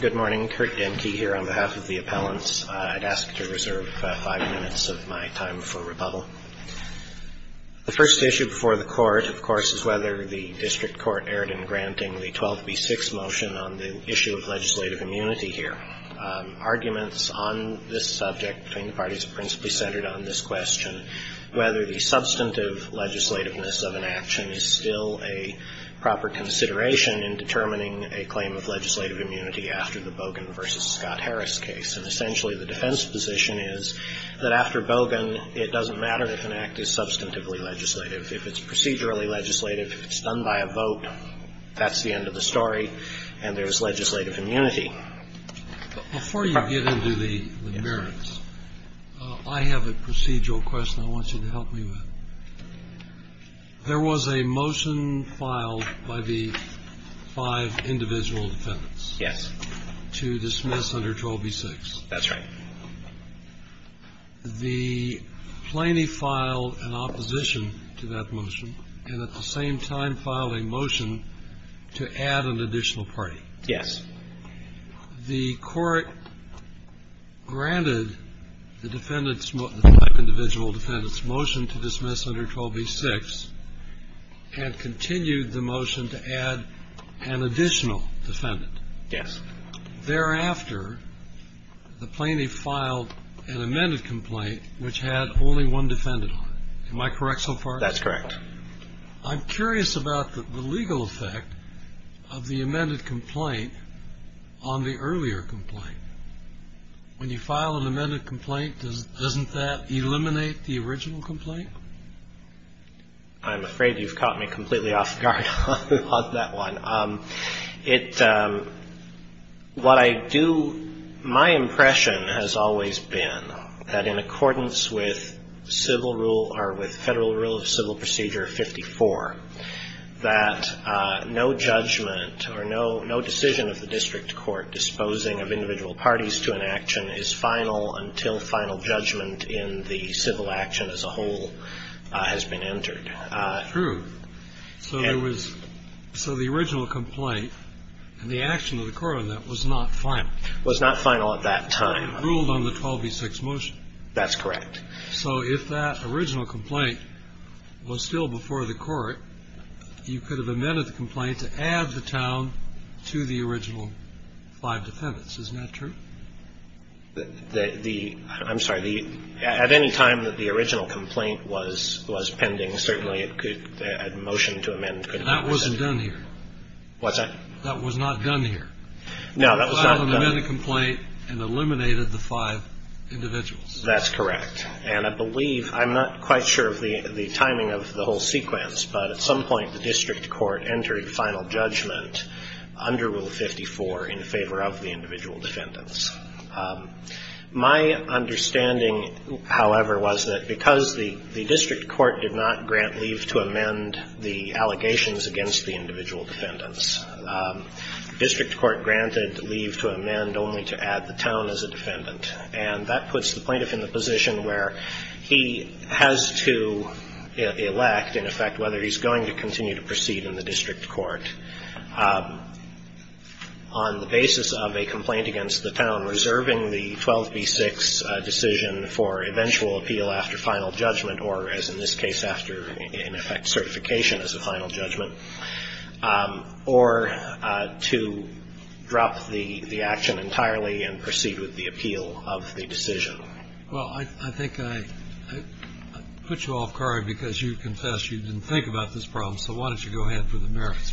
Good morning. Kurt Denke here on behalf of the appellants. I'd ask to reserve five minutes of my time for rebuttal. The first issue before the court, of course, is whether the district court erred in granting the 12B6 motion on the issue of legislative immunity here. Arguments on this subject between the parties principally centered on this question, whether the substantive legislativeness of an action is still a proper consideration in determining a claim of legislative immunity after the Bogan versus Scott Harris case. And essentially, the defense position is that after Bogan, it doesn't matter if an act is substantively legislative. If it's procedurally legislative, if it's done by a vote, that's the end of the story, and there is legislative immunity. Before you get into the merits, I have a procedural question I want you to help me with. There was a motion filed by the five individual defendants to dismiss under 12B6. That's right. The plaintiff filed an opposition to that motion and at the same time filed a motion to add an additional party. Yes. The court granted the defendants, individual defendants, motion to dismiss under 12B6 and continued the motion to add an additional defendant. Yes. Thereafter, the plaintiff filed an amended complaint which had only one defendant on it. Am I correct so far? That's correct. I'm curious about the legal effect of the amended complaint on the earlier complaint. When you file an amended complaint, doesn't that eliminate the original complaint? I'm afraid you've caught me completely off guard on that one. My impression has always been that in accordance with federal rule of civil procedure 54, that no judgment or no decision of the district court disposing of individual parties to an action is final until final judgment in the civil action as a whole has been entered. True. So the original complaint and the action of the court on that was not final. Was not final at that time. Ruled on the 12B6 motion. That's correct. So if that original complaint was still before the court, you could have amended the complaint to add the town to the original five defendants. Isn't that true? I'm sorry. At any time that the original complaint was pending, certainly a motion to amend could have been presented. And that wasn't done here. What's that? That was not done here. No, that was not done. You filed an amended complaint and eliminated the five individuals. That's correct. And I believe, I'm not quite sure of the timing of the whole sequence, but at some point, the district court entered final judgment under Rule 54 in favor of the individual defendants. My understanding, however, was that because the district court did not grant leave to amend the allegations against the individual defendants, district court granted leave to amend only to add the town as a defendant. And that puts the plaintiff in the position where he has to elect, in effect, whether he's going to continue to proceed in the district court on the basis of a complaint against the town reserving the 12B6 decision for eventual appeal after final judgment, or as in this case, after, in effect, certification as a final judgment, or to drop the action entirely and proceed with the appeal of the decision. Well, I think I put you off guard because you confessed you didn't think about this problem. So why don't you go ahead for the merits.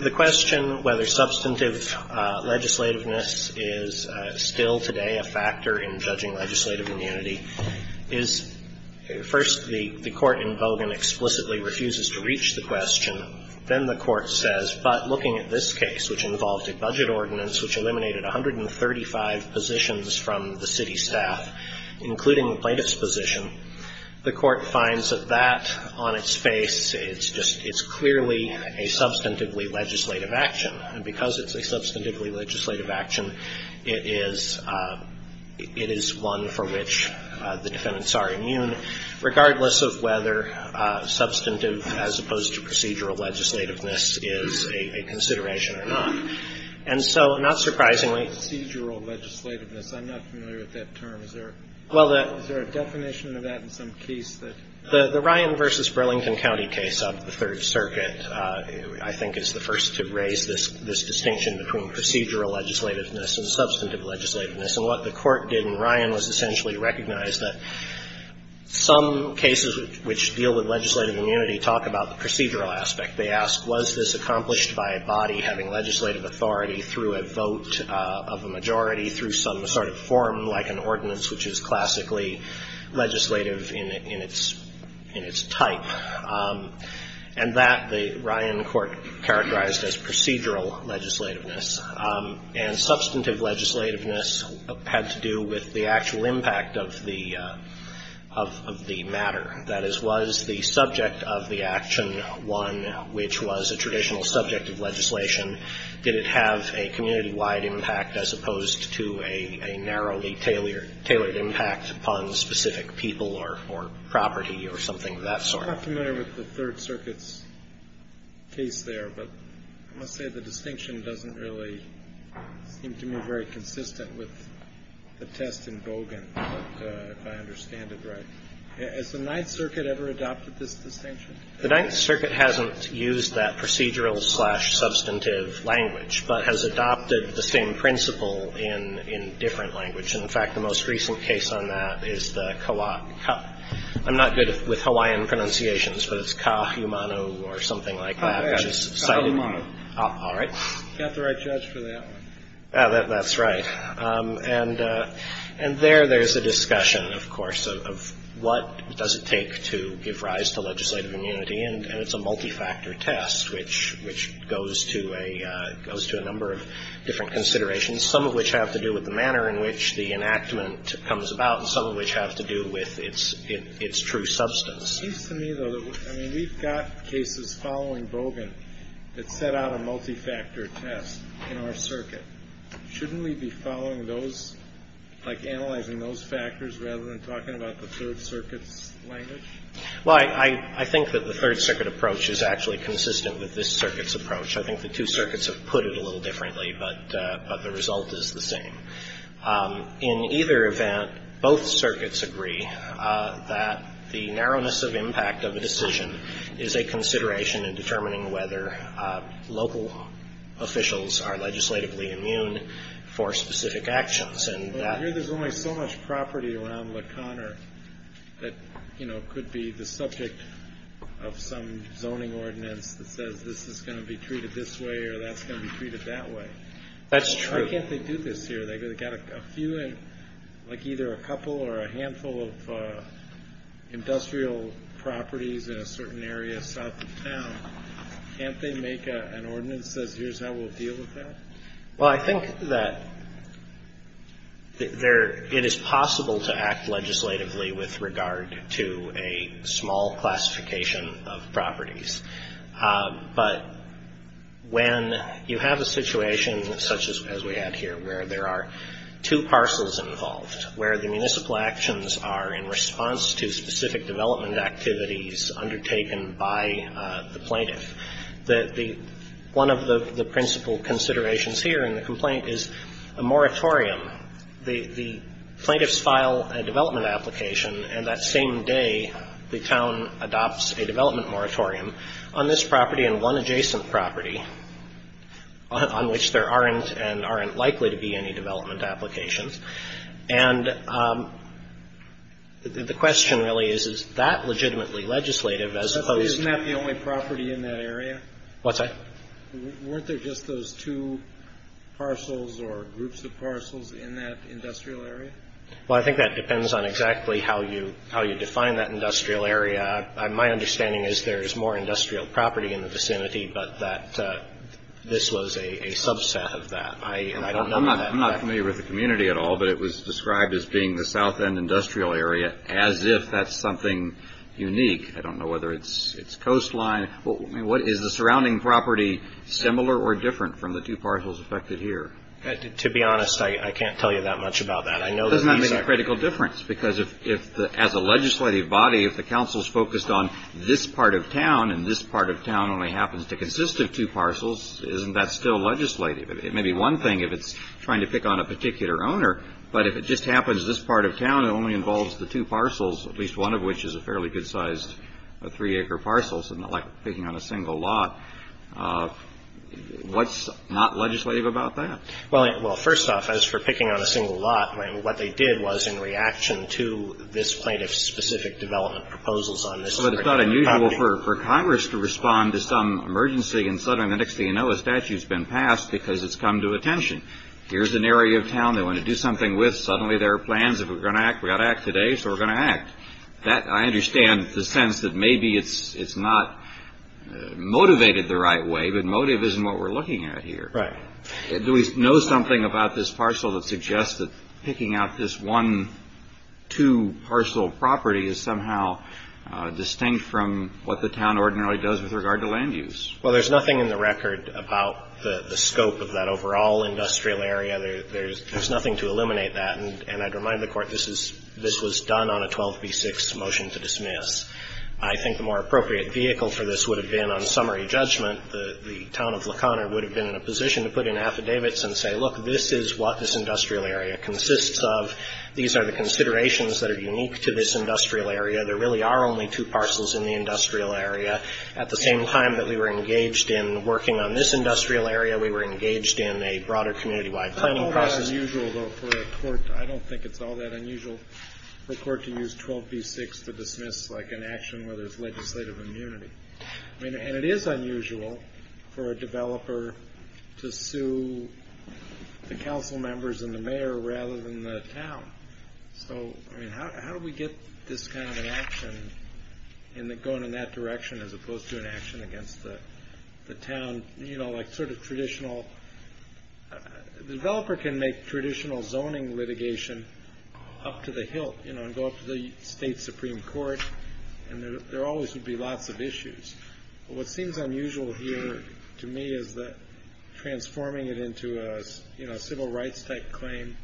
The question whether substantive legislativeness is still today a factor in judging legislative immunity is, first, the court in Bogan explicitly refuses to reach the question. Then the court says, but looking at this case, which involved a budget ordinance which eliminated 135 positions from the city staff, including the plaintiff's position, the court finds that that, on its face, it's clearly a substantively legislative action. And because it's a substantively legislative action, it is one for which the defendants are immune, regardless of whether substantive as opposed to procedural legislativeness is a consideration or not. And so, not surprisingly, procedural legislativeness, I'm not familiar with that term. Is there a definition of that in some case? The Ryan versus Burlington County case of the Third Circuit, I think, is the first to raise this distinction between procedural legislativeness and substantive legislativeness. And what the court did in Ryan was essentially recognize that some cases which deal with legislative immunity talk about the procedural aspect. They ask, was this accomplished by a body having legislative authority through a vote of a majority, through some sort of form like an ordinance which is classically legislative in its type? And that, the Ryan court characterized as procedural legislativeness. And substantive legislativeness had to do with the actual impact of the matter. That is, was the subject of the action one which was a traditional subject of legislation? Did it have a community-wide impact as opposed to a narrowly tailored impact upon specific people or property or something of that sort? I'm not familiar with the Third Circuit's case there. But I must say, the distinction doesn't really seem to me very consistent with the test in Bogan, if I understand it right. Has the Ninth Circuit ever adopted this distinction? The Ninth Circuit hasn't used that procedural slash principle in different language. And in fact, the most recent case on that is the Kaua'a. I'm not good with Hawaiian pronunciations, but it's Kahumano or something like that, which is cited. Kahumano. All right. Got the right judge for that one. That's right. And there, there's a discussion, of course, of what does it take to give rise to legislative immunity. And it's a multi-factor test, which goes to a number of different considerations, some of which have to do with the manner in which the enactment comes about, and some of which have to do with its true substance. It seems to me, though, that we've got cases following Bogan that set out a multi-factor test in our circuit. Shouldn't we be following those, like analyzing those factors rather than talking about the Third Circuit's language? Well, I think that the Third Circuit approach is actually consistent with this circuit's approach. I think the two circuits have put it a little differently, but the result is the same. In either event, both circuits agree that the narrowness of impact of a decision is a consideration in determining whether local officials are legislatively immune for specific actions. And that- Well, I hear there's only so much property around La Connor that could be the subject of some zoning ordinance that says this is going to be treated this way or that's going to be treated that way. That's true. Why can't they do this here? They've got a few, like either a couple or a handful of industrial properties in a certain area south of town. Can't they make an ordinance that says, here's how we'll deal with that? Well, I think that it is possible to act legislatively with regard to a small classification of properties. But when you have a situation such as we had here, where there are two parcels involved, where the municipal actions are in response to specific development activities undertaken by the plaintiff, one of the principal considerations here in the complaint is a moratorium. The plaintiffs file a development application, and that same day, the town adopts a development moratorium on this property and one adjacent property on which there aren't and aren't likely to be any development applications. And the question really is, is that legitimately legislative as opposed to- Isn't that the only property in that area? What's that? Weren't there just those two parcels or groups of parcels in that industrial area? Well, I think that depends on exactly how you define that industrial area. My understanding is there is more industrial property in the vicinity, but that this was a subset of that. I don't know that- I'm not familiar with the community at all, but it was described as being the south end industrial area as if that's something unique. I don't know whether it's coastline. What is the surrounding property similar or different from the two parcels affected here? To be honest, I can't tell you that much about that. I know that these are- Doesn't that make a critical difference? Because as a legislative body, if the council's focused on this part of town and this part of town only happens to consist of two parcels, isn't that still legislative? It may be one thing if it's trying to pick on a particular owner, but if it just happens this part of town, it only involves the two parcels, at least one of which is a fairly good-sized three-acre parcel, so not like picking on a single lot. What's not legislative about that? Well, first off, as for picking on a single lot, what they did was in reaction to this plaintiff's specific development proposals on this- But it's not unusual for Congress to respond to some emergency and suddenly the next thing you know, a statute's been passed because it's come to attention. Here's an area of town they want to do something with. Suddenly there are plans. If we're going to act, we ought to act today, so we're going to act. I understand the sense that maybe it's not motivated the right way, but motive isn't what we're looking at here. Right. Do we know something about this parcel that suggests that picking out this one, two parcel property is somehow distinct from what the town ordinarily does with regard to land use? Well, there's nothing in the record about the scope of that overall industrial area. There's nothing to eliminate that And I'd remind the Court this was done on a 12b-6 motion to dismiss. I think the more appropriate vehicle for this would have been on summary judgment the town of La Conner would have been in a position to put in affidavits and say, look, this is what this industrial area consists of. These are the considerations that are unique to this industrial area. There really are only two parcels in the industrial area. At the same time that we were engaged in working on this industrial area, we were engaged in a broader community-wide planning process. It's unusual, though, for a court, I don't think it's all that unusual for a court to use 12b-6 to dismiss like an action where there's legislative immunity. I mean, and it is unusual for a developer to sue the council members and the mayor rather than the town. So, I mean, how do we get this kind of an action in going in that direction as opposed to an action against the town, you know, like sort of traditional... The developer can make traditional zoning litigation up to the hilt, you know, and go up to the state supreme court, and there always would be lots of issues. What seems unusual here to me is that transforming it into a, you know, civil rights-type claim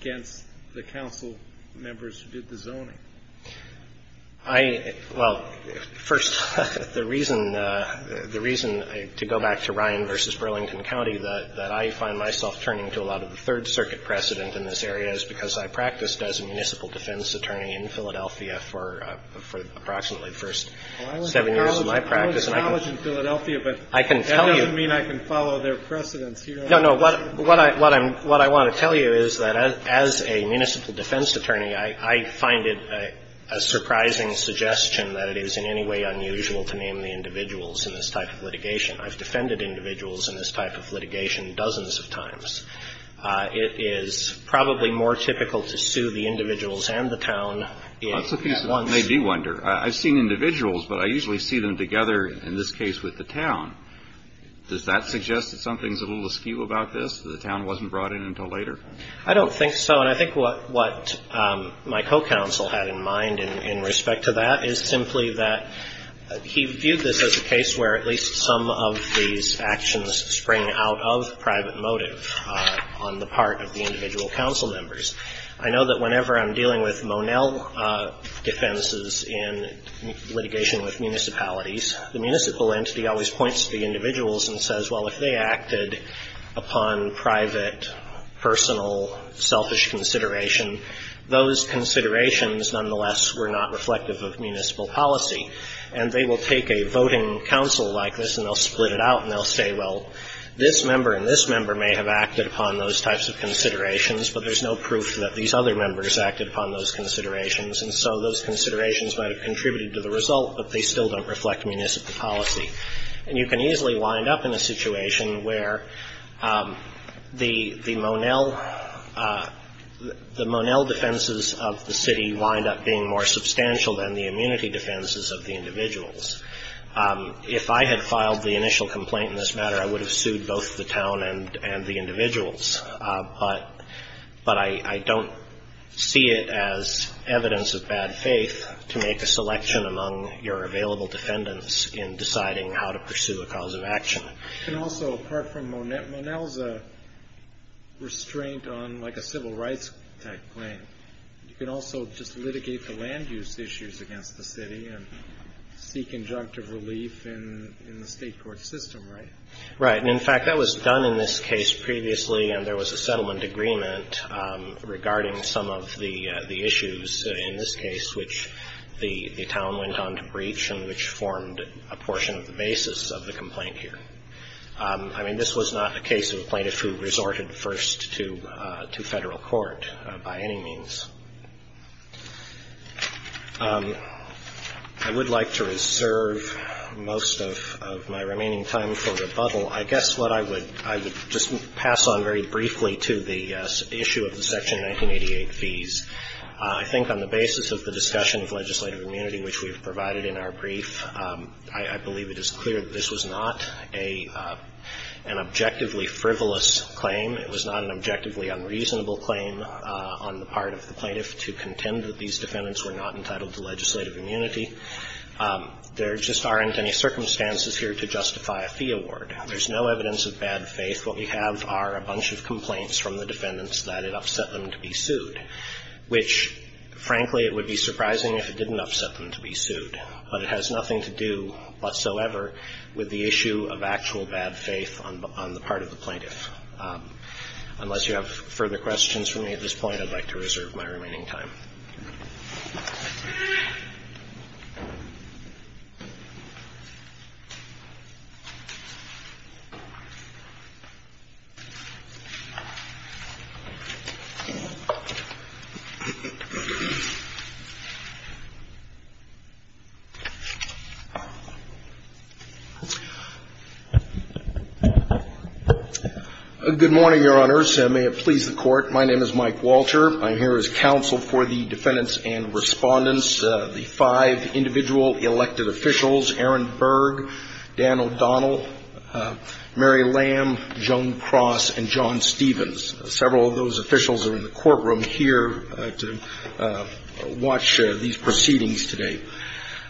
against the council members who did the zoning. I, well, first, the reason to go back to Ryan versus Burlington County that I find myself turning to a lot of the Third Circuit precedent in this area is because I practiced as a municipal defense attorney in Philadelphia for approximately the first seven years of my practice. I was in college in Philadelphia, but that doesn't mean I can follow their precedents here. No, no, what I want to tell you is that as a municipal defense attorney, I find it a surprising suggestion that it is in any way unusual to name the individuals in this type of litigation. I've defended individuals in this type of litigation dozens of times. It is probably more typical to sue the individuals and the town. That's a piece of what made me wonder. I've seen individuals, but I usually see them together, in this case, with the town. Does that suggest that something's a little askew about this, that the town wasn't brought in until later? I don't think so, and I think what my co-counsel had in mind in respect to that is simply that he viewed this as a case where at least some of these actions spring out of private motive on the part of the individual council members. I know that whenever I'm dealing with Monell defenses in litigation with municipalities, the municipal entity always points to the individuals and says, well, if they acted upon private, personal, selfish consideration, those considerations, nonetheless, were not reflective of municipal policy. And they will take a voting council like this, and they'll split it out, and they'll say, well, this member and this member may have acted upon those types of considerations, but there's no proof that these other members acted upon those considerations. And so those considerations might have contributed to the result, but they still don't reflect municipal policy. And you can easily wind up in a situation where the Monell, the Monell defenses of the city wind up being more substantial than the immunity defenses of the individuals. If I had filed the initial complaint in this matter, I would have sued both the town and the individuals. But I don't see it as evidence of bad faith to make a selection among your available defendants in deciding how to pursue a cause of action. And also, apart from Monell's restraint on like a civil rights type claim, you can also just litigate the land use issues against the city and seek injunctive relief in the state court system, right? Right. And in fact, that was done in this case previously, and there was a settlement agreement regarding some of the issues in this case, which the town went on to breach and which formed a portion of the basis of the complaint here. I mean, this was not a case of a plaintiff who resorted first to federal court by any means. I would like to reserve most of my remaining time for rebuttal. I guess what I would, I would just pass on very briefly to the issue of the Section 1988 fees. I think on the basis of the discussion of legislative immunity, which we have provided in our brief, I believe it is clear that this was not an objectively frivolous claim. It was not an objectively unreasonable claim on the part of the plaintiff to contend that these defendants were not entitled to legislative immunity. There just aren't any circumstances here to justify a fee award. There's no evidence of bad faith. What we have are a bunch of complaints from the defendants that it upset them to be sued. Which, frankly, it would be surprising if it didn't upset them to be sued. But it has nothing to do whatsoever with the issue of actual bad faith on the part of the plaintiff. Unless you have further questions for me at this point, I'd like to reserve my remaining time. Good morning, Your Honors. May it please the Court. My name is Mike Walter. I'm here as counsel for the defendants and respondents. The five individual elected officials, Aaron Berg, Dan O'Donnell, Mary Lamb, Joan Cross, and John Stevens. Several of those officials are in the courtroom here to watch these proceedings today.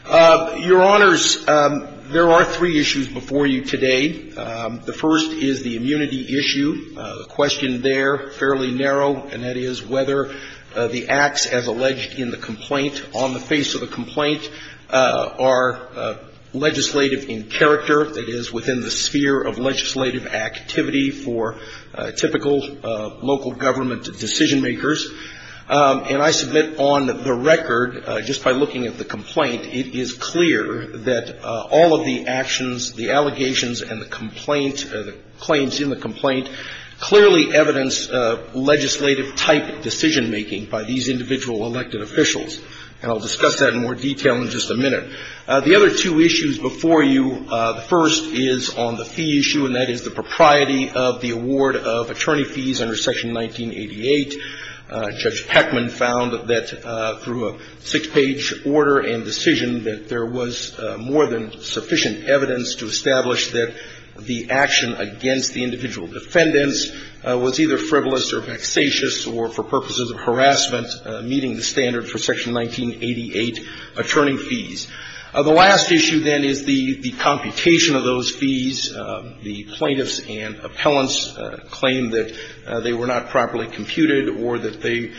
Your Honors, there are three issues before you today. The first is the immunity issue. The question there, fairly narrow, and that is whether the acts as alleged in the complaint, on the face of the complaint, are legislative in character, that is, within the sphere of legislative activity for typical local government decision-makers. And I submit on the record, just by looking at the complaint, it is clear that all of the actions, the allegations, and the complaint, the claims in the complaint, clearly evidence legislative-type decision-making by these individual elected officials. And I'll discuss that in more detail in just a minute. The other two issues before you, the first is on the fee issue, and that is the propriety of the award of attorney fees under Section 1988. Judge Heckman found that through a six-page order and decision that there was more than sufficient evidence to establish that the action against the individual defendants was either frivolous or vexatious or, for purposes of harassment, meeting the standard for Section 1988 attorney fees. The last issue, then, is the computation of those fees. The plaintiffs and appellants claim that they were not properly computed or that they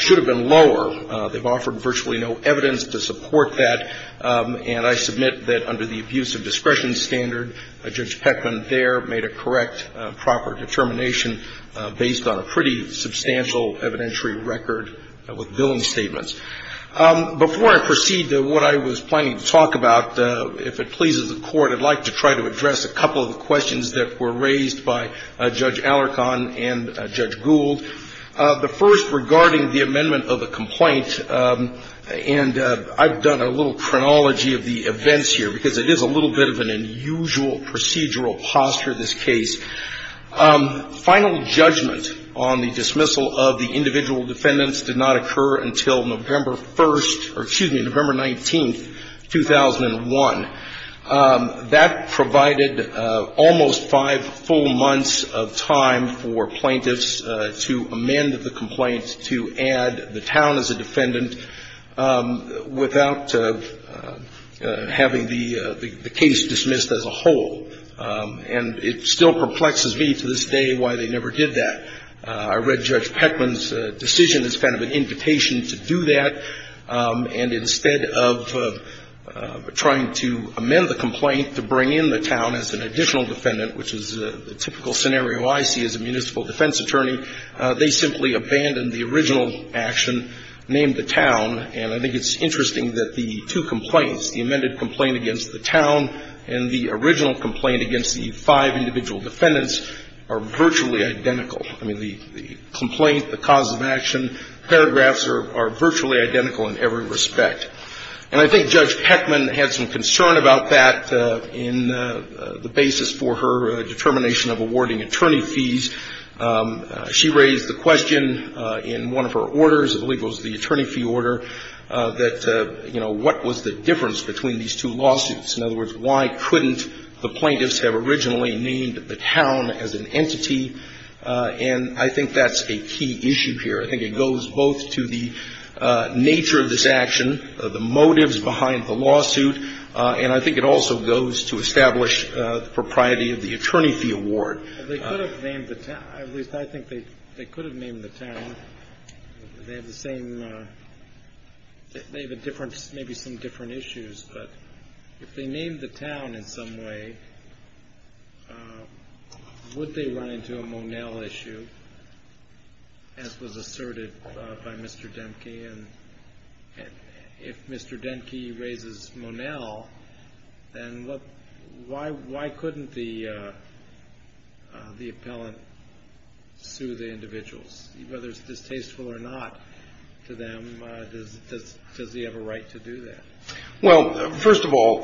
should have been lower. They've offered virtually no evidence to support that. And I submit that under the abuse of discretion standard, Judge Heckman there made a correct, proper determination based on a pretty substantial evidentiary record with billing statements. Before I proceed to what I was planning to talk about, if it pleases the Court, I'd like to try to address a couple of the questions that were raised by Judge Alarcon and Judge Gould. The first regarding the amendment of the complaint, and I've done a little chronology of the events here because it is a little bit of an unusual procedural posture. But I'll try to answer this case. Final judgment on the dismissal of the individual defendants did not occur until November 1st or, excuse me, November 19th, 2001. That provided almost five full months of time for plaintiffs to amend the complaint, to add the town as a defendant, without having the case dismissed as a whole. And it still perplexes me to this day why they never did that. I read Judge Heckman's decision as kind of an invitation to do that. And instead of trying to amend the complaint to bring in the town as an additional defendant, which is the typical scenario I see as a municipal defense attorney, they simply abandoned the original action, named the town. And I think it's interesting that the two complaints, the amended complaint against the town and the original complaint against the five individual defendants are virtually identical. I mean, the complaint, the cause of action, paragraphs are virtually identical in every respect. And I think Judge Heckman had some concern about that in the basis for her determination of awarding attorney fees. She raised the question in one of her orders, I believe it was the attorney fee order, that, you know, what was the difference between these two lawsuits? In other words, why couldn't the plaintiffs have originally named the town as an entity? And I think that's a key issue here. I think it goes both to the nature of this action, the motives behind the lawsuit, and I think it also goes to establish the propriety of the attorney fee award. They could have named the town, at least I think they could have named the town. They have the same, they have a difference, maybe some different issues. But if they named the town in some way, would they run into a Monell issue, as was asserted by Mr. Denke? And if Mr. Denke raises Monell, then why couldn't the appellant sue the individuals? Whether it's distasteful or not to them, does he have a right to do that? Well, first of all,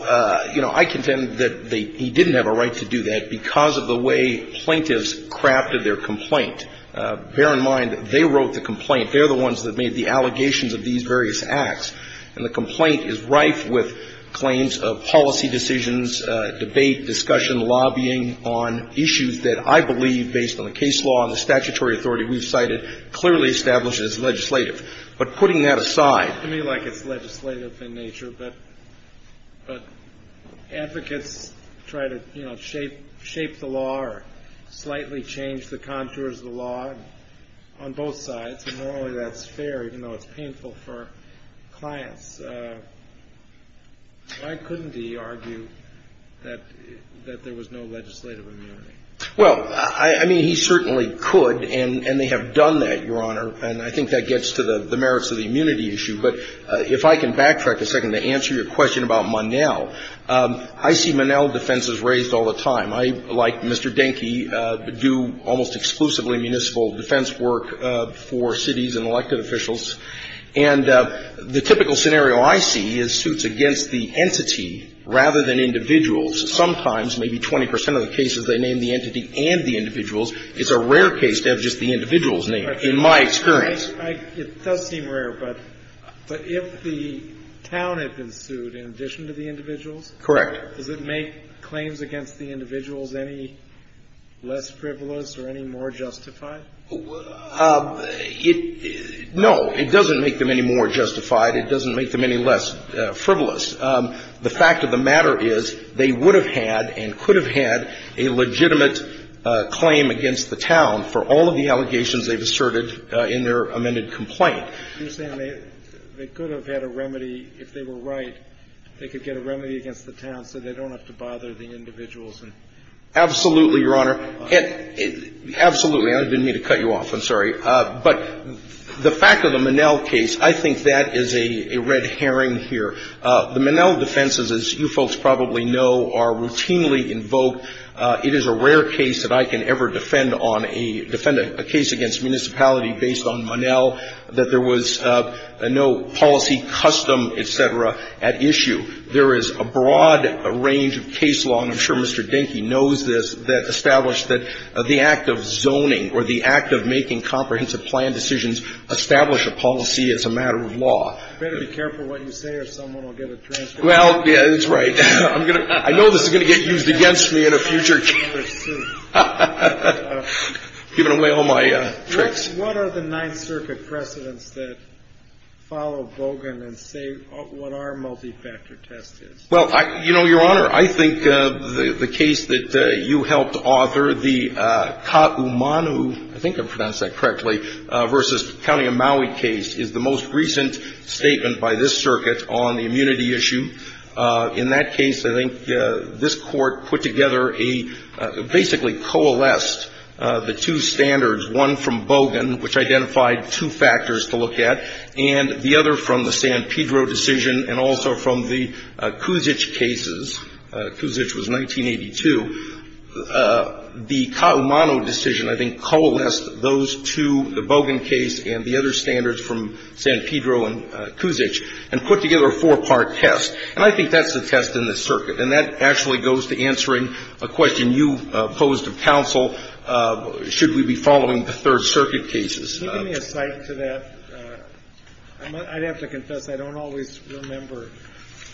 you know, I contend that he didn't have a right to do that because of the way plaintiffs crafted their complaint. Bear in mind, they wrote the complaint. They're the ones that made the allegations of these various acts. And the complaint is rife with claims of policy decisions, debate, discussion, lobbying on issues that I believe, based on the case law and the statutory authority we've cited, clearly establishes legislative. But putting that aside. To me, like it's legislative in nature, but advocates try to, you know, shape the law or slightly change the contours of the law on both sides. And normally that's fair, even though it's painful for clients. Why couldn't he argue that there was no legislative immunity? Well, I mean, he certainly could. And they have done that, Your Honor. And I think that gets to the merits of the immunity issue. But if I can backtrack a second to answer your question about Monell, I see Monell defenses raised all the time. I, like Mr. Denke, do almost exclusively municipal defense work for cities and elected officials. And the typical scenario I see is suits against the entity rather than individuals. Sometimes, maybe 20 percent of the cases, they name the entity and the individuals. It's a rare case to have just the individual's name, in my experience. It does seem rare, but if the town had been sued in addition to the individuals? Correct. Does it make claims against the individuals any less frivolous or any more justified? It no, it doesn't make them any more justified. It doesn't make them any less frivolous. The fact of the matter is they would have had and could have had a legitimate claim against the town for all of the allegations they've asserted in their amended complaint. You're saying they could have had a remedy, if they were right, they could get a remedy against the town so they don't have to bother the individuals and? Absolutely, Your Honor. Absolutely. I didn't mean to cut you off. I'm sorry. But the fact of the Monell case, I think that is a red herring here. The Monell defenses, as you folks probably know, are routinely invoked. It is a rare case that I can ever defend on a case against municipality based on Monell, that there was no policy custom, et cetera, at issue. There is a broad range of case law, and I'm sure Mr. Dinkey knows this, that established that the act of zoning or the act of making comprehensive plan decisions establish a policy as a matter of law. You better be careful what you say or someone will get a transfer. Well, yeah, that's right. I'm going to, I know this is going to get used against me in a future case. We'll see. Giving away all my tricks. What are the Ninth Circuit precedents that follow Bogan and say what are multifactor test is? Well, your Honor, I think the case that you helped author, the Kaumanu, I think I pronounced that correctly, versus County of Maui case is the most recent statement by this circuit on the immunity issue. In that case, I think this Court put together a, basically coalesced the two standards, one from Bogan, which identified two factors to look at, and the other from the San Pedro decision, and also from the Cusich cases. Cusich was 1982. The Kaumanu decision, I think, coalesced those two, the Bogan case and the other standards from San Pedro and Cusich, and put together a four-part test. And I think that's the test in this circuit. And that actually goes to answering a question you posed of counsel, should we be following the Third Circuit cases? Can you give me a cite to that? I'd have to confess I don't always remember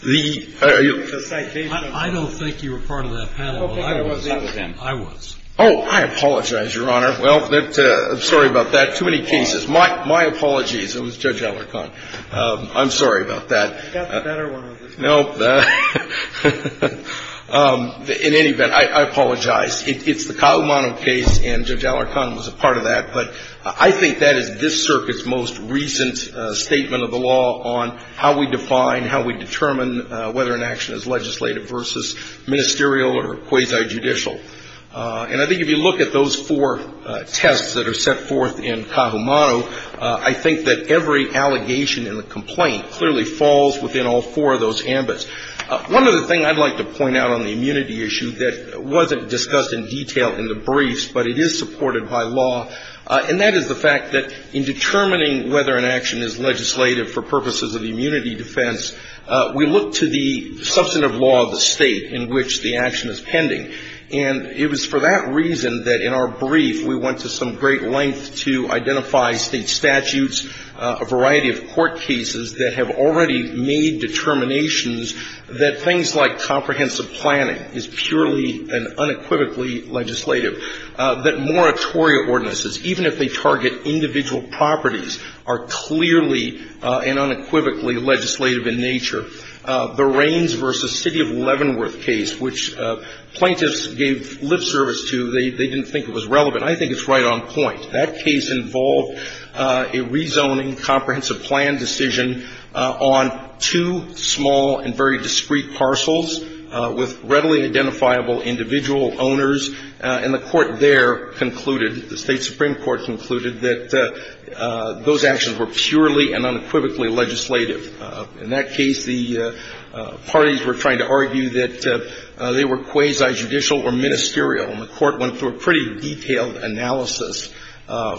the citation. I don't think you were part of that panel. I don't think I was either then. I was. Oh, I apologize, Your Honor. Well, I'm sorry about that. Too many cases. My apologies. It was Judge Alarcon. I'm sorry about that. I've got a better one. Nope. In any event, I apologize. It's the Kaumanu case, and Judge Alarcon was a part of that. But I think that is this circuit's most recent statement of the law on how we define, how we determine whether an action is legislative versus ministerial or quasi-judicial. And I think if you look at those four tests that are set forth in Kaumanu, I think that every allegation in the complaint clearly falls within all four of those ambits. One other thing I'd like to point out on the immunity issue that wasn't discussed in detail in the briefs, but it is supported by law, and that is the fact that in determining whether an action is legislative for purposes of immunity defense, we look to the substantive law of the state in which the action is pending. And it was for that reason that in our brief, we went to some great length to identify state statutes, a variety of court cases that have already made determinations that things like are clearly and unequivocally legislative, that moratoria ordinances, even if they target individual properties, are clearly and unequivocally legislative in nature. The Raines v. City of Leavenworth case, which plaintiffs gave lip service to, they didn't think it was relevant. I think it's right on point. That case involved a rezoning comprehensive plan decision on two small and very discreet parcels with readily identifiable individual owners, and the court there concluded, the State Supreme Court concluded, that those actions were purely and unequivocally legislative. In that case, the parties were trying to argue that they were quasi-judicial or ministerial, and the Court went through a pretty detailed analysis,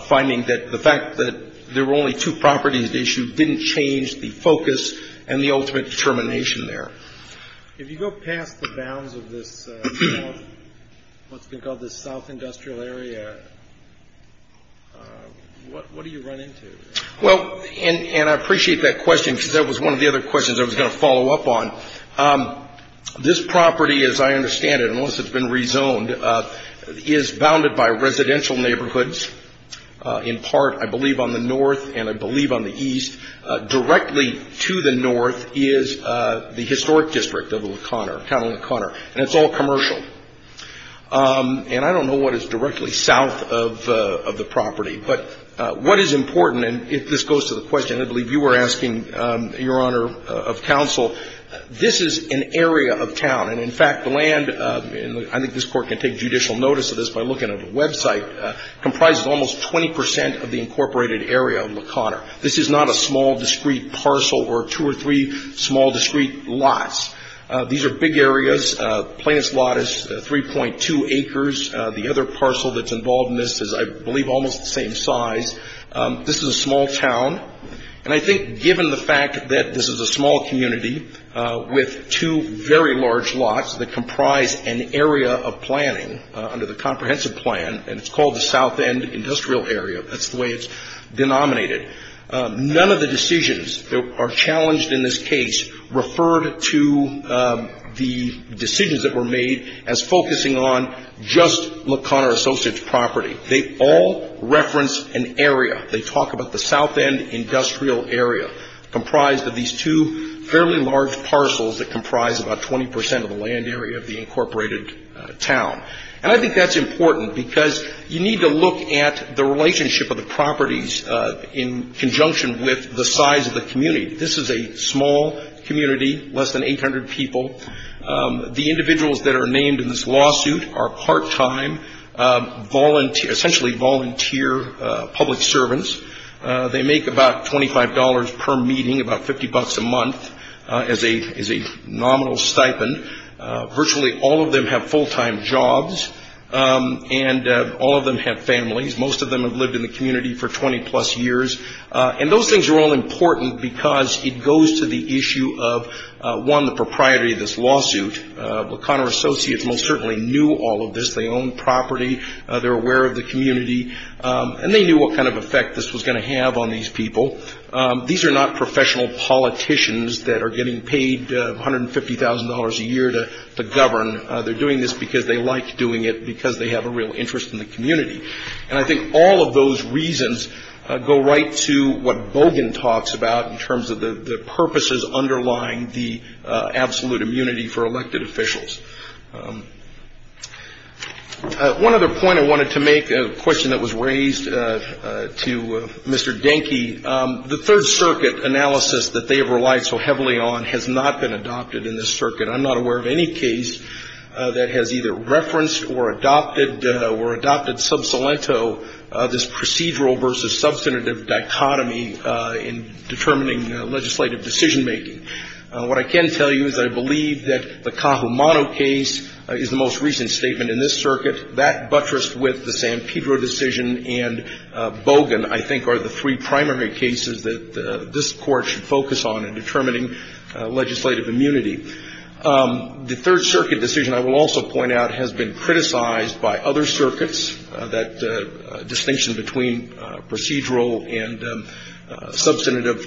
finding that the fact that there were only two properties at issue didn't change the focus and the ultimate determination there. If you go past the bounds of this, what's been called the South Industrial Area, what do you run into? Well, and I appreciate that question, because that was one of the other questions I was going to follow up on. This property, as I understand it, unless it's been rezoned, is bounded by residential neighborhoods, in part, I believe, on the north and I believe on the east. Directly to the north is the historic district of La Conner, the town of La Conner, and it's all commercial. And I don't know what is directly south of the property, but what is important, and if this goes to the question, I believe you were asking, Your Honor, of counsel, this is an area of town, and in fact, the land, and I think this Court can take judicial notice of this by looking at the website, comprises almost 20 percent of the incorporated area of La Conner. This is not a small, discreet parcel or two or three small, discreet lots. These are big areas, plaintiff's lot is 3.2 acres. The other parcel that's involved in this is, I believe, almost the same size. This is a small town, and I think given the fact that this is a small community with two very large lots that comprise an area of planning under the comprehensive plan, and it's called the South End Industrial Area, that's the way it's denominated. None of the decisions that are challenged in this case referred to the decisions that were made as focusing on just La Conner Associates property. They all reference an area. They talk about the South End Industrial Area, comprised of these two fairly large parcels that comprise about 20 percent of the land area of the incorporated town. And I think that's important, because you need to look at the relationship of the properties in conjunction with the size of the community. This is a small community, less than 800 people. The individuals that are named in this lawsuit are part-time, essentially volunteer public servants. They make about $25 per meeting, about 50 bucks a month, as a nominal stipend. Virtually all of them have full-time jobs, and all of them have families. Most of them have lived in the community for 20 plus years. And those things are all important because it goes to the issue of, one, the propriety of this lawsuit. La Conner Associates most certainly knew all of this. They own property, they're aware of the community, and they knew what kind of effect this was going to have on these people. These are not professional politicians that are getting paid $150,000 a year to govern. They're doing this because they like doing it, because they have a real interest in the community. And I think all of those reasons go right to what Bogan talks about in terms of the purposes underlying the absolute immunity for elected officials. One other point I wanted to make, a question that was raised to Mr. Denke, the Third Circuit analysis that they have relied so heavily on has not been adopted in this circuit. I'm not aware of any case that has either referenced or adopted sub salento, this procedural versus substantive dichotomy in determining legislative decision making. What I can tell you is I believe that the Cajumano case is the most recent statement in this circuit. That buttressed with the San Pedro decision and Bogan, I think, are the three primary cases that this Court should focus on in determining legislative immunity. The Third Circuit decision, I will also point out, has been criticized by other circuits, that distinction between procedural and substantive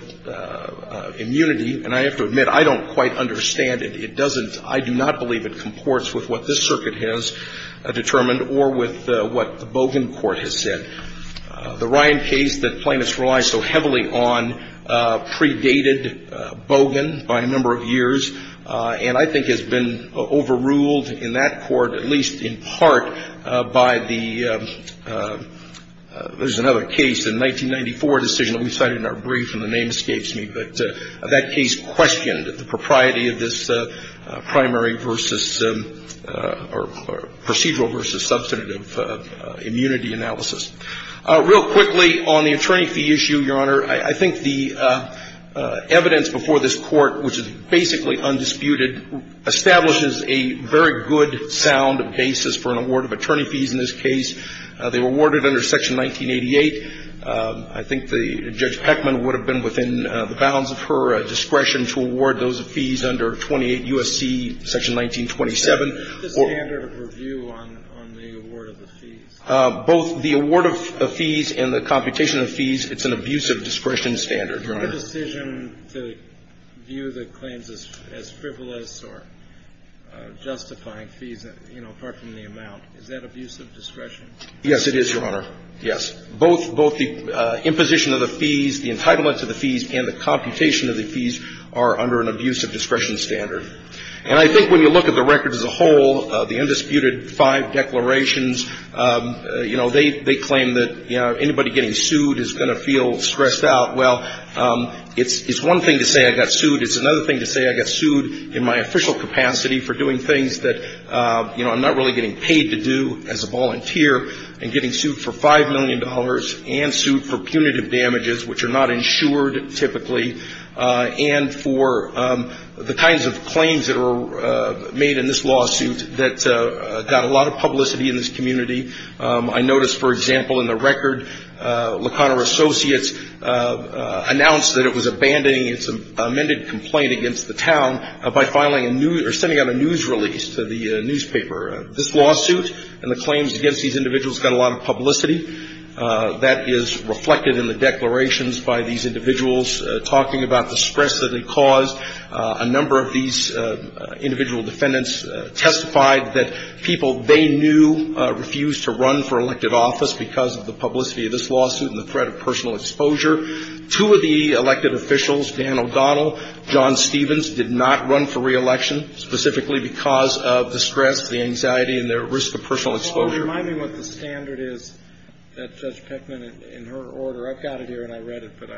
immunity. And I have to admit, I don't quite understand it. It doesn't, I do not believe it comports with what this circuit has determined or with what the Bogan Court has said. The Ryan case that plaintiffs relied so heavily on predated Bogan by a number of years and I think has been overruled in that court, at least in part, by the, there's another case, the 1994 decision that we cited in our brief and the name escapes me, but that case questioned the propriety of this primary versus, or procedural versus substantive immunity analysis. Real quickly on the attorney fee issue, Your Honor, I think the evidence before this Court, which is basically undisputed, establishes a very good sound basis for an award of attorney fees in this case. They were awarded under Section 1988. I think Judge Peckman would have been within the bounds of her discretion to award those fees under 28 U.S.C. Section 1927. The standard of review on the award of the fees? Both the award of fees and the computation of fees, it's an abusive discretion standard, Your Honor. A decision to view the claims as frivolous or justifying fees, you know, apart from the amount, is that abusive discretion? Yes, it is, Your Honor, yes. Both the imposition of the fees, the entitlement to the fees, and the computation of the fees are under an abusive discretion standard. And I think when you look at the record as a whole, the undisputed five declarations, you know, they claim that, you know, anybody getting sued is going to feel stressed out. Well, it's one thing to say I got sued. It's another thing to say I got sued in my official capacity for doing things that, you know, I'm a lawyer and getting sued for $5 million and sued for punitive damages, which are not insured, typically, and for the kinds of claims that are made in this lawsuit that got a lot of publicity in this community. I noticed, for example, in the record, La Conner Associates announced that it was abandoning its amended complaint against the town by filing a new or sending out a news release to the newspaper. This lawsuit and the claims against these individuals got a lot of publicity. That is reflected in the declarations by these individuals talking about the stress that it caused. A number of these individual defendants testified that people they knew refused to run for elected office because of the publicity of this lawsuit and the threat of personal exposure. Two of the elected officials, Dan O'Donnell, John Stevens, did not run for reelection specifically because of the stress, the anxiety, and the risk of personal exposure. So, Paul, remind me what the standard is that Judge Peckman, in her order, I've got it here and I read it, but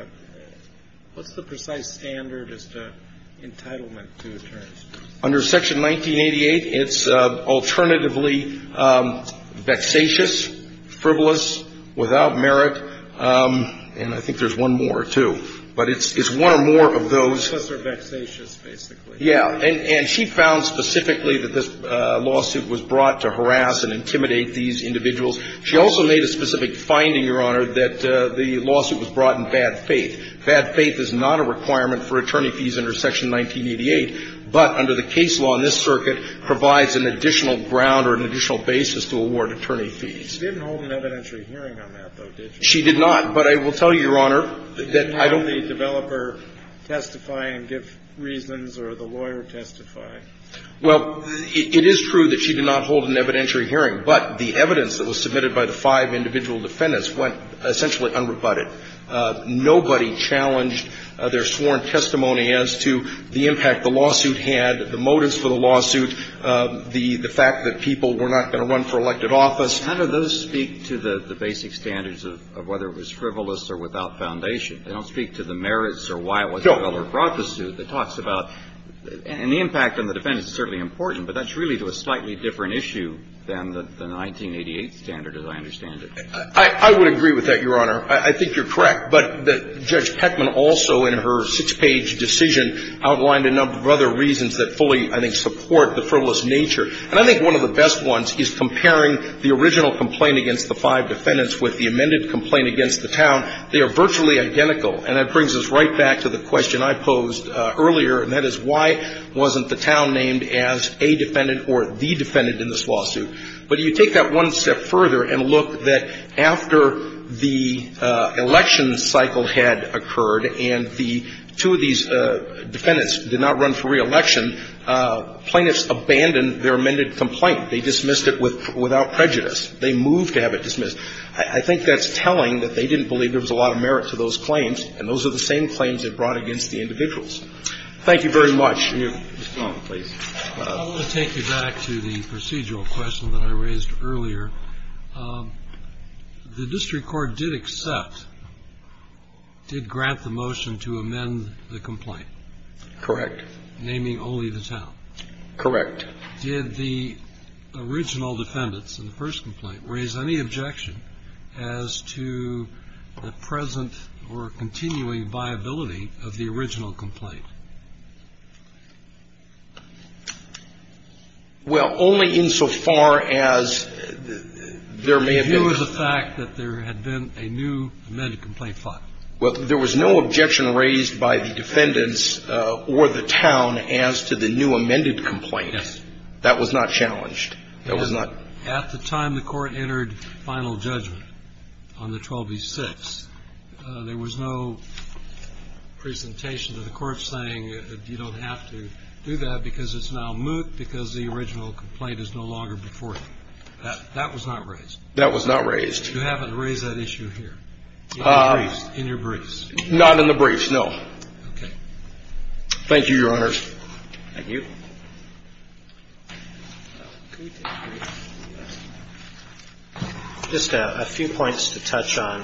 what's the precise standard as to entitlement to attorneys? Under Section 1988, it's alternatively vexatious, frivolous, without merit, and I think there's one more, too, but it's one or more of those. Professor vexatious, basically. Yeah. And she found specifically that this lawsuit was brought to harass and intimidate these individuals. She also made a specific finding, Your Honor, that the lawsuit was brought in bad faith. Bad faith is not a requirement for attorney fees under Section 1988, but under the case law in this circuit provides an additional ground or an additional basis to award attorney fees. She didn't hold an evidentiary hearing on that, though, did she? She did not. But I will tell you, Your Honor, that I don't testify and give reasons or the lawyer testify. Well, it is true that she did not hold an evidentiary hearing, but the evidence that was submitted by the five individual defendants went essentially unrebutted. Nobody challenged their sworn testimony as to the impact the lawsuit had, the motives for the lawsuit, the fact that people were not going to run for elected office. How do those speak to the basic standards of whether it was frivolous or without foundation? They don't speak to the merits or why it was frivolous or brought the suit. No. It talks about the impact on the defendants is certainly important, but that's really to a slightly different issue than the 1988 standard, as I understand it. I would agree with that, Your Honor. I think you're correct. But Judge Peckman also in her six-page decision outlined a number of other reasons that fully, I think, support the frivolous nature. And I think one of the best ones is comparing the original complaint against the five defendants with the amended complaint against the town. They are virtually identical. And that brings us right back to the question I posed earlier, and that is why wasn't the town named as a defendant or the defendant in this lawsuit? But you take that one step further and look that after the election cycle had occurred and the two of these defendants did not run for reelection, plaintiffs abandoned their amended complaint. They dismissed it without prejudice. They moved to have it dismissed. I think that's telling that they didn't believe there was a lot of merit to those claims, and those are the same claims they brought against the individuals. Thank you very much. Mr. Long, please. I want to take you back to the procedural question that I raised earlier. The district court did accept, did grant the motion to amend the complaint. Correct. Naming only the town. Correct. Did the original defendants in the first complaint raise any objection as to the present or continuing viability of the original complaint? Well, only insofar as there may have been. The view is the fact that there had been a new amended complaint filed. Well, there was no objection raised by the defendants or the town as to the new amended complaint. Yes. That was not challenged. That was not. At the time the court entered final judgment on the 12E6, there was no presentation of the court saying you don't have to do that because it's now moot because the original complaint is no longer before you. That was not raised. That was not raised. You happen to raise that issue here in your briefs. Not in the briefs, no. Okay. Thank you, Your Honors. Thank you. Just a few points to touch on.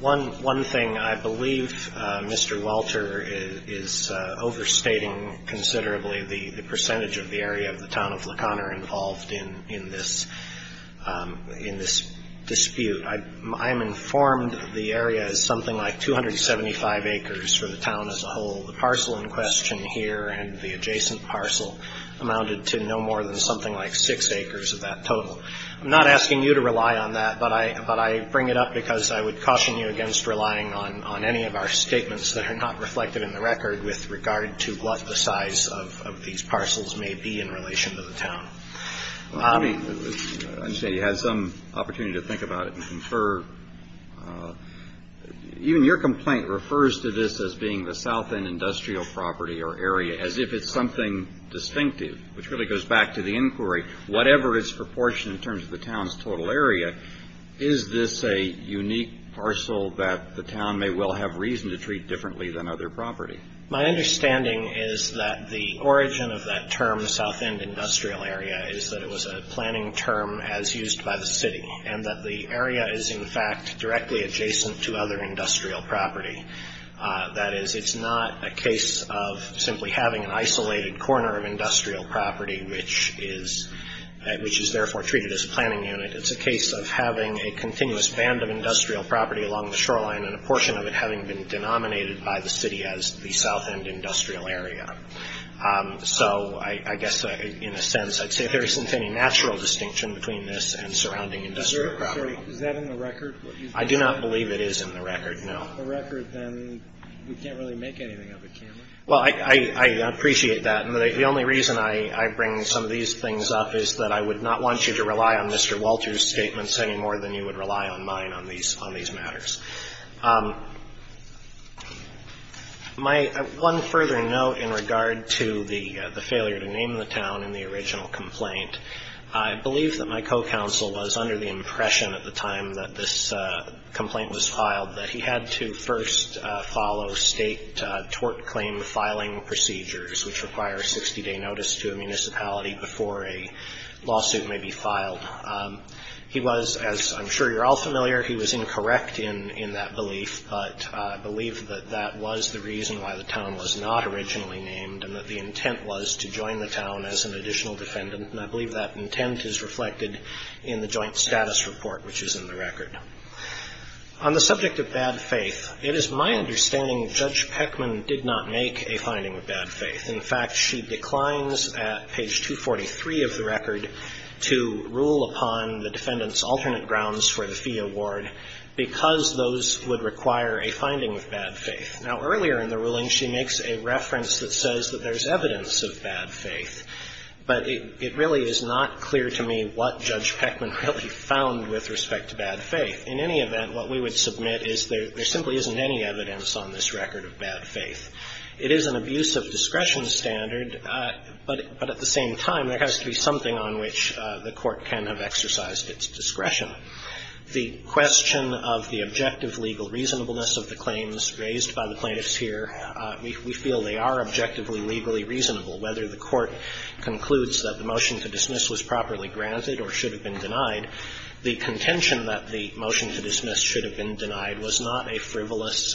One thing I believe Mr. Welter is overstating considerably the percentage of the area of the town of La Conner involved in this dispute. I am informed the area is something like 275 acres for the town as a whole. The parcel in question here and the adjacent parcel amounted to no more than something like six acres of that total. I'm not asking you to rely on that, but I bring it up because I would caution you against relying on any of our statements that are not reflected in the record with regard to what the size of these parcels may be in relation to the town. I understand you had some opportunity to think about it and confer. Even your complaint refers to this as being the south end industrial property or area as if it's something distinctive, which really goes back to the inquiry. Whatever its proportion in terms of the town's total area, is this a unique parcel that the town may well have reason to treat differently than other property? My understanding is that the origin of that term, south end industrial area, is that it was a planning term as used by the city and that the area is, in fact, directly adjacent to other industrial property. That is, it's not a case of simply having an isolated corner of industrial property, which is therefore treated as a planning unit. It's a case of having a continuous band of industrial property along the shoreline and a portion of it having been denominated by the city as the south end industrial area. So I guess, in a sense, I'd say there isn't any natural distinction between this and surrounding industrial property. Is that in the record? I do not believe it is in the record, no. If it's in the record, then we can't really make anything of it, can we? Well, I appreciate that. The only reason I bring some of these things up is that I would not want you to rely on Mr. Walter's statements any more than you would rely on mine on these matters. My one further note in regard to the failure to name the town in the original complaint, I believe that my co-counsel was under the impression at the time that this complaint was filed that he had to first follow state tort claim filing procedures, which require a 60-day notice to a municipality before a lawsuit may be filed. He was, as I'm sure you're all familiar, he was incorrect in his statement. In that belief, I believe that that was the reason why the town was not originally named and that the intent was to join the town as an additional defendant, and I believe that intent is reflected in the joint status report, which is in the record. On the subject of bad faith, it is my understanding Judge Peckman did not make a finding of bad faith. In fact, she declines at page 243 of the record to rule upon the defendant's alternate grounds for the fee award because those would require a finding of bad faith. Now, earlier in the ruling, she makes a reference that says that there's evidence of bad faith, but it really is not clear to me what Judge Peckman really found with respect to bad faith. In any event, what we would submit is there simply isn't any evidence on this record of bad faith. It is an abuse of discretion standard, but at the same time, there has to be something on which the Court can have exercised its discretion. The question of the objective legal reasonableness of the claims raised by the plaintiffs here, we feel they are objectively legally reasonable. Whether the Court concludes that the motion to dismiss was properly granted or should have been denied, the contention that the motion to dismiss should have been denied was not a frivolous,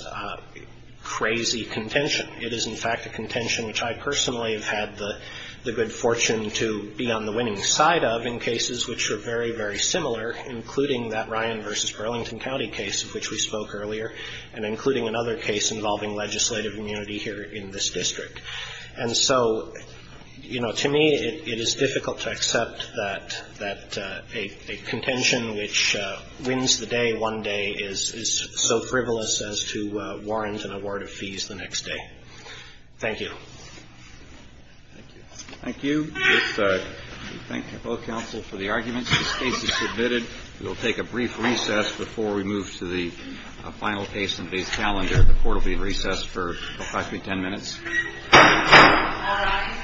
crazy contention. It is, in fact, a contention which I personally have had the good fortune to be on the winning side of cases which are very, very similar, including that Ryan v. Burlington County case of which we spoke earlier, and including another case involving legislative immunity here in this district. And so, you know, to me, it is difficult to accept that a contention which wins the day one day is so frivolous as to warrant an award of fees the next day. Thank you. Thank you. Thank you. We thank both counsel for the arguments. This case is submitted. We will take a brief recess before we move to the final case in today's calendar. The Court will be in recess for 5 to 10 minutes. All rise.